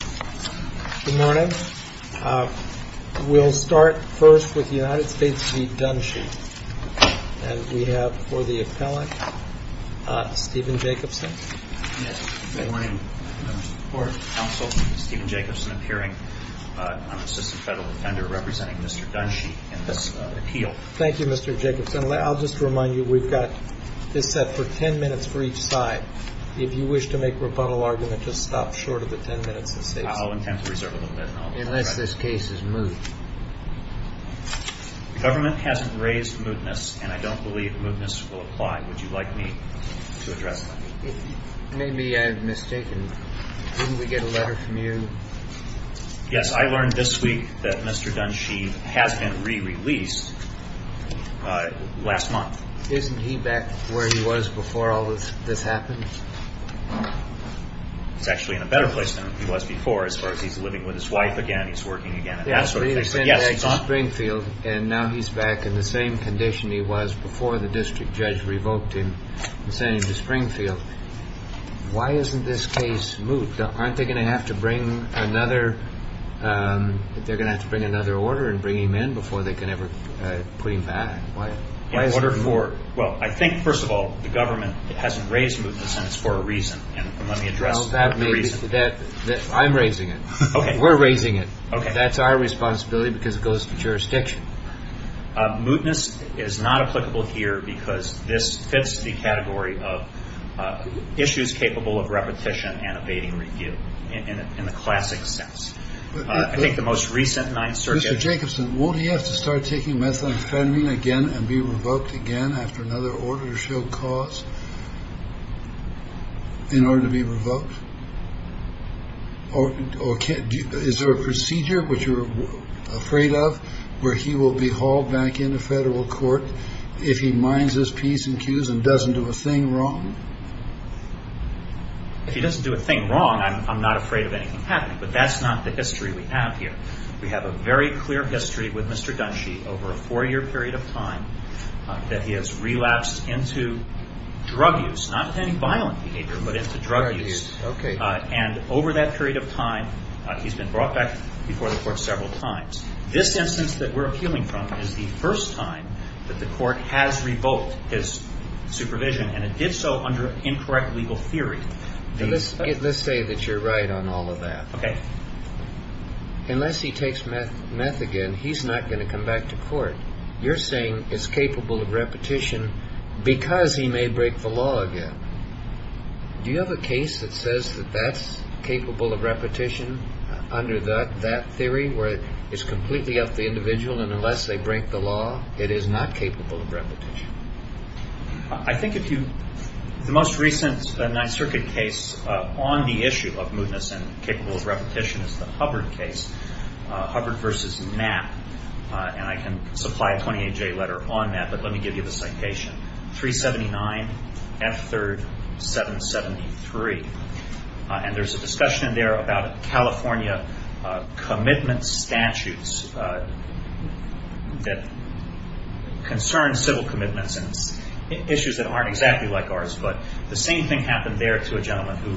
Good morning. We'll start first with the United States v. Dunshee. And we have for the appellant Stephen Jacobson. Good morning, members of the court, counsel. Stephen Jacobson appearing on assistant federal defender representing Mr. Dunshee in this appeal. Thank you, Mr. Jacobson. I'll just remind you we've got this set for ten minutes for each side. If you wish to make rebuttal argument, just stop short of the ten minutes. I'll intend to reserve a minute. Unless this case is moved. Government hasn't raised mootness, and I don't believe mootness will apply. Would you like me to address that? If you may be mistaken, didn't we get a letter from you? Yes, I learned this week that Mr. Dunshee has been re-released last month. Isn't he back where he was before all this happened? He's actually in a better place now than he was before as far as he's living with his wife again. He's working again and that sort of thing. Yes, he's in Springfield, and now he's back in the same condition he was before the district judge revoked him and sent him to Springfield. Why isn't this case moved? Aren't they going to have to bring another order and bring him in before they can ever put him back? I think, first of all, the government hasn't raised mootness and it's for a reason. Let me address the reason. I'm raising it. We're raising it. That's our responsibility because it goes to jurisdiction. Mootness is not applicable here because this fits the category of issues capable of repetition and evading review in the classic sense. I think the most recent 9th Circuit... Mr. Jacobson, won't he have to start taking methamphetamine again and be revoked again after another order to show cause in order to be revoked? Is there a procedure which you're afraid of where he will be hauled back into federal court if he minds his piece and queues and doesn't do a thing wrong? If he doesn't do a thing wrong, I'm not afraid of anything happening. But that's not the history we have here. We have a very clear history with Mr. Dunshee over a four-year period of time that he has relapsed into drug use. Not with any violent behavior, but into drug use. And over that period of time, he's been brought back before the court several times. This instance that we're appealing from is the first time that the court has revoked his supervision, and it did so under incorrect legal theory. Let's say that you're right on all of that. Okay. Unless he takes meth again, he's not going to come back to court. You're saying it's capable of repetition because he may break the law again. Do you have a case that says that that's capable of repetition under that theory, where it's completely up to the individual, and unless they break the law, it is not capable of repetition? I think if you – the most recent Ninth Circuit case on the issue of mootness and capable of repetition is the Hubbard case, Hubbard v. Mapp. And I can supply a 28-J letter on that, but let me give you the citation. 379 F. 3rd 773. And there's a discussion in there about California commitment statutes that concern civil commitments and issues that aren't exactly like ours. But the same thing happened there to a gentleman who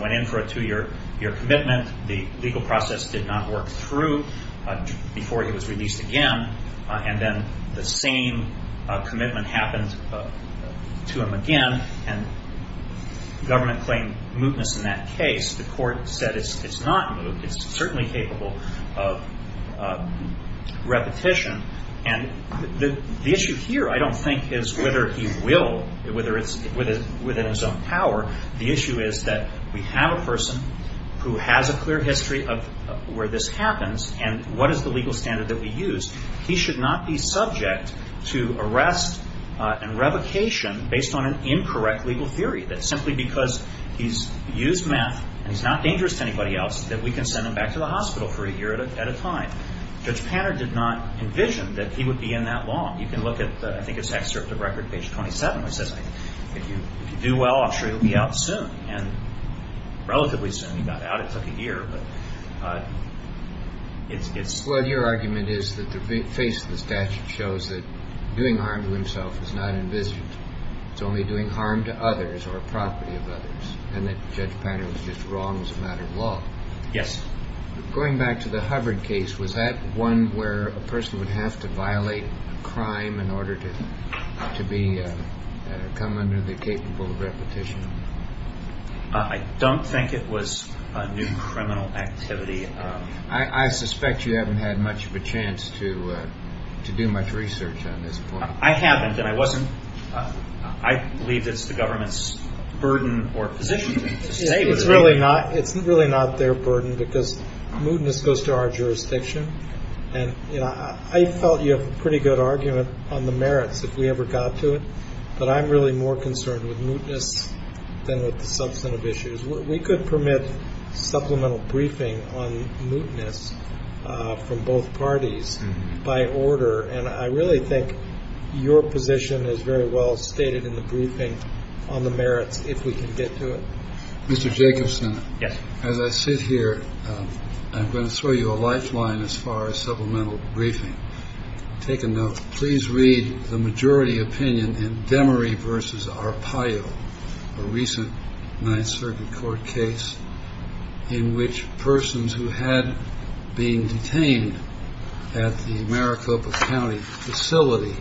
went in for a two-year commitment. The legal process did not work through before he was released again. And then the same commitment happened to him again, and government claimed mootness in that case. The court said it's not moot. It's certainly capable of repetition. And the issue here I don't think is whether he will, whether it's within his own power. The issue is that we have a person who has a clear history of where this happens, and what is the legal standard that we use? He should not be subject to arrest and revocation based on an incorrect legal theory, that simply because he's used meth and he's not dangerous to anybody else that we can send him back to the hospital for a year at a time. Judge Panner did not envision that he would be in that long. You can look at, I think, his excerpt of record, page 27, which says, if you do well, I'm sure you'll be out soon. And relatively soon he got out. It took a year. Well, your argument is that the face of the statute shows that doing harm to himself is not envisioned. It's only doing harm to others or property of others, and that Judge Panner was just wrong as a matter of law. Yes. Going back to the Hubbard case, was that one where a person would have to violate a crime in order to come under the capable of repetition? I don't think it was a new criminal activity. I suspect you haven't had much of a chance to do much research on this point. I haven't, and I believe it's the government's burden or position to state it. It's really not their burden because mootness goes to our jurisdiction, and I felt you have a pretty good argument on the merits if we ever got to it, but I'm really more concerned with mootness than with the substantive issues. We could permit supplemental briefing on mootness from both parties by order, and I really think your position is very well stated in the briefing on the merits if we can get to it. Mr. Jacobson. Yes. As I sit here, I'm going to throw you a lifeline as far as supplemental briefing. Take a note. Please read the majority opinion in Demaree versus Arpaio, a recent Ninth Circuit court case in which persons who had been detained at the Maricopa County facility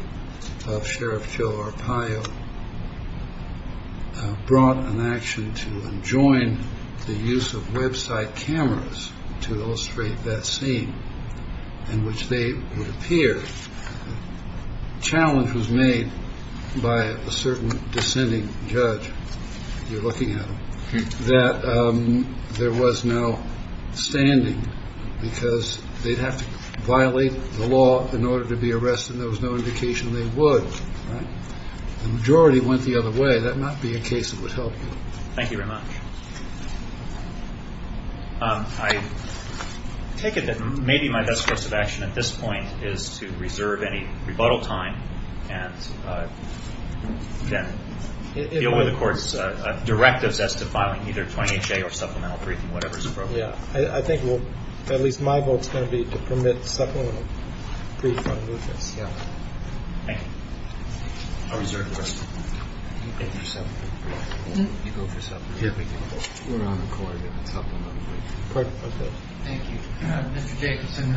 of Sheriff Joe Arpaio brought an action to enjoin the use of website cameras to illustrate that scene in which they would appear. The challenge was made by a certain dissenting judge, if you're looking at him, that there was no standing because they'd have to violate the law in order to be arrested, and there was no indication they would. The majority went the other way. That might be a case that would help you. Thank you very much. I take it that maybe my best course of action at this point is to reserve any rebuttal time and then deal with the court's directives as to filing either 20HA or supplemental briefing, whatever is appropriate. Yes. I think at least my vote is going to be to permit supplemental briefing on mootness. Yes. Thank you. I'll reserve the rest of my time. You go for supplemental briefing. We're on the court in the supplemental briefing. Thank you. Mr. Jacobson,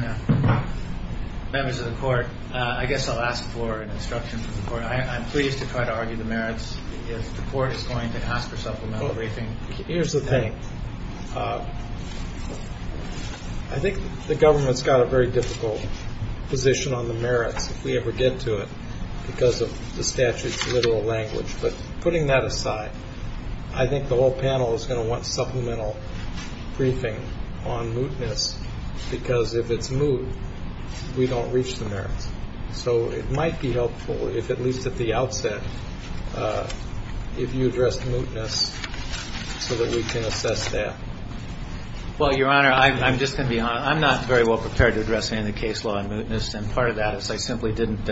members of the court, I guess I'll ask for an instruction from the court. I'm pleased to try to argue the merits if the court is going to ask for supplemental briefing. Here's the thing. I think the government's got a very difficult position on the merits if we ever get to it because of the statute's literal language. But putting that aside, I think the whole panel is going to want supplemental briefing on mootness because if it's moot, we don't reach the merits. So it might be helpful, at least at the outset, if you address mootness so that we can assess that. Well, Your Honor, I'm just going to be honest. I'm not very well prepared to address any of the case law on mootness, and part of that is I simply didn't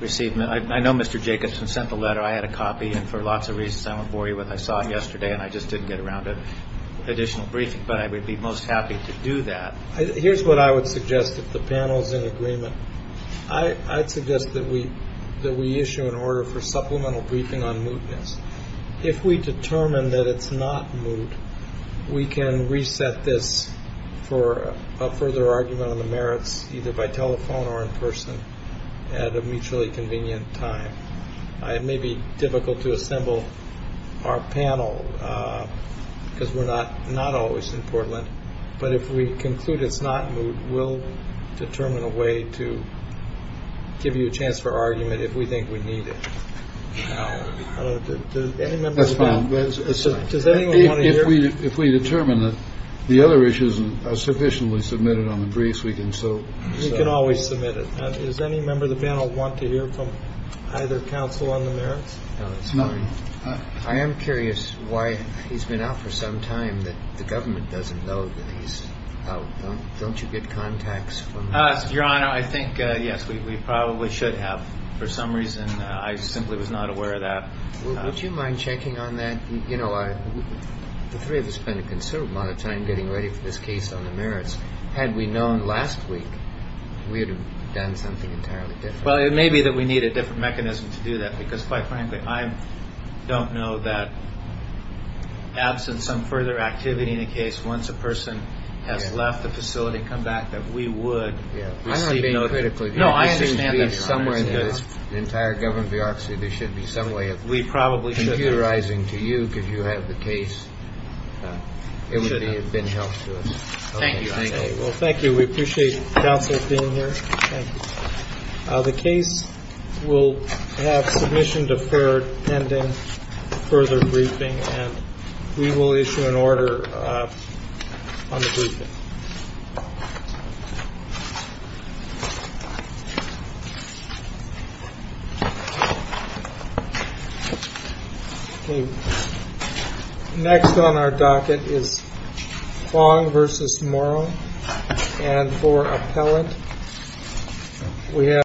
receive it. I know Mr. Jacobson sent the letter. I had a copy, and for lots of reasons I won't bore you with it. I saw it yesterday, and I just didn't get around to additional briefing. But I would be most happy to do that. Here's what I would suggest if the panel is in agreement. I'd suggest that we issue an order for supplemental briefing on mootness. If we determine that it's not moot, we can reset this for a further argument on the merits, either by telephone or in person, at a mutually convenient time. It may be difficult to assemble our panel because we're not always in Portland, but if we conclude it's not moot, we'll determine a way to give you a chance for argument if we think we need it. That's fine. Does anyone want to hear? If we determine that the other issues are sufficiently submitted on the briefs, we can still. We can always submit it. Does any member of the panel want to hear from either counsel on the merits? No, it's fine. I am curious why he's been out for some time that the government doesn't know that he's out. Don't you get contacts? Your Honor, I think, yes, we probably should have. For some reason, I simply was not aware of that. Would you mind checking on that? The three of us spend a considerable amount of time getting ready for this case on the merits. Had we known last week, we would have done something entirely different. Well, it may be that we need a different mechanism to do that because, quite frankly, I don't know that, absent some further activity in the case, once a person has left the facility and come back, that we would receive no critical view. No, I understand that, Your Honor. It seems to be somewhere in the entire government bureaucracy there should be some way of computerizing to you because you have the case. It would have been helpful. Thank you. Well, thank you. We appreciate counsel being here. Thank you. The case will have submission deferred pending further briefing, and we will issue an order on the briefing. Okay. Next on our docket is Fong v. Morrow. And for appellant, we have...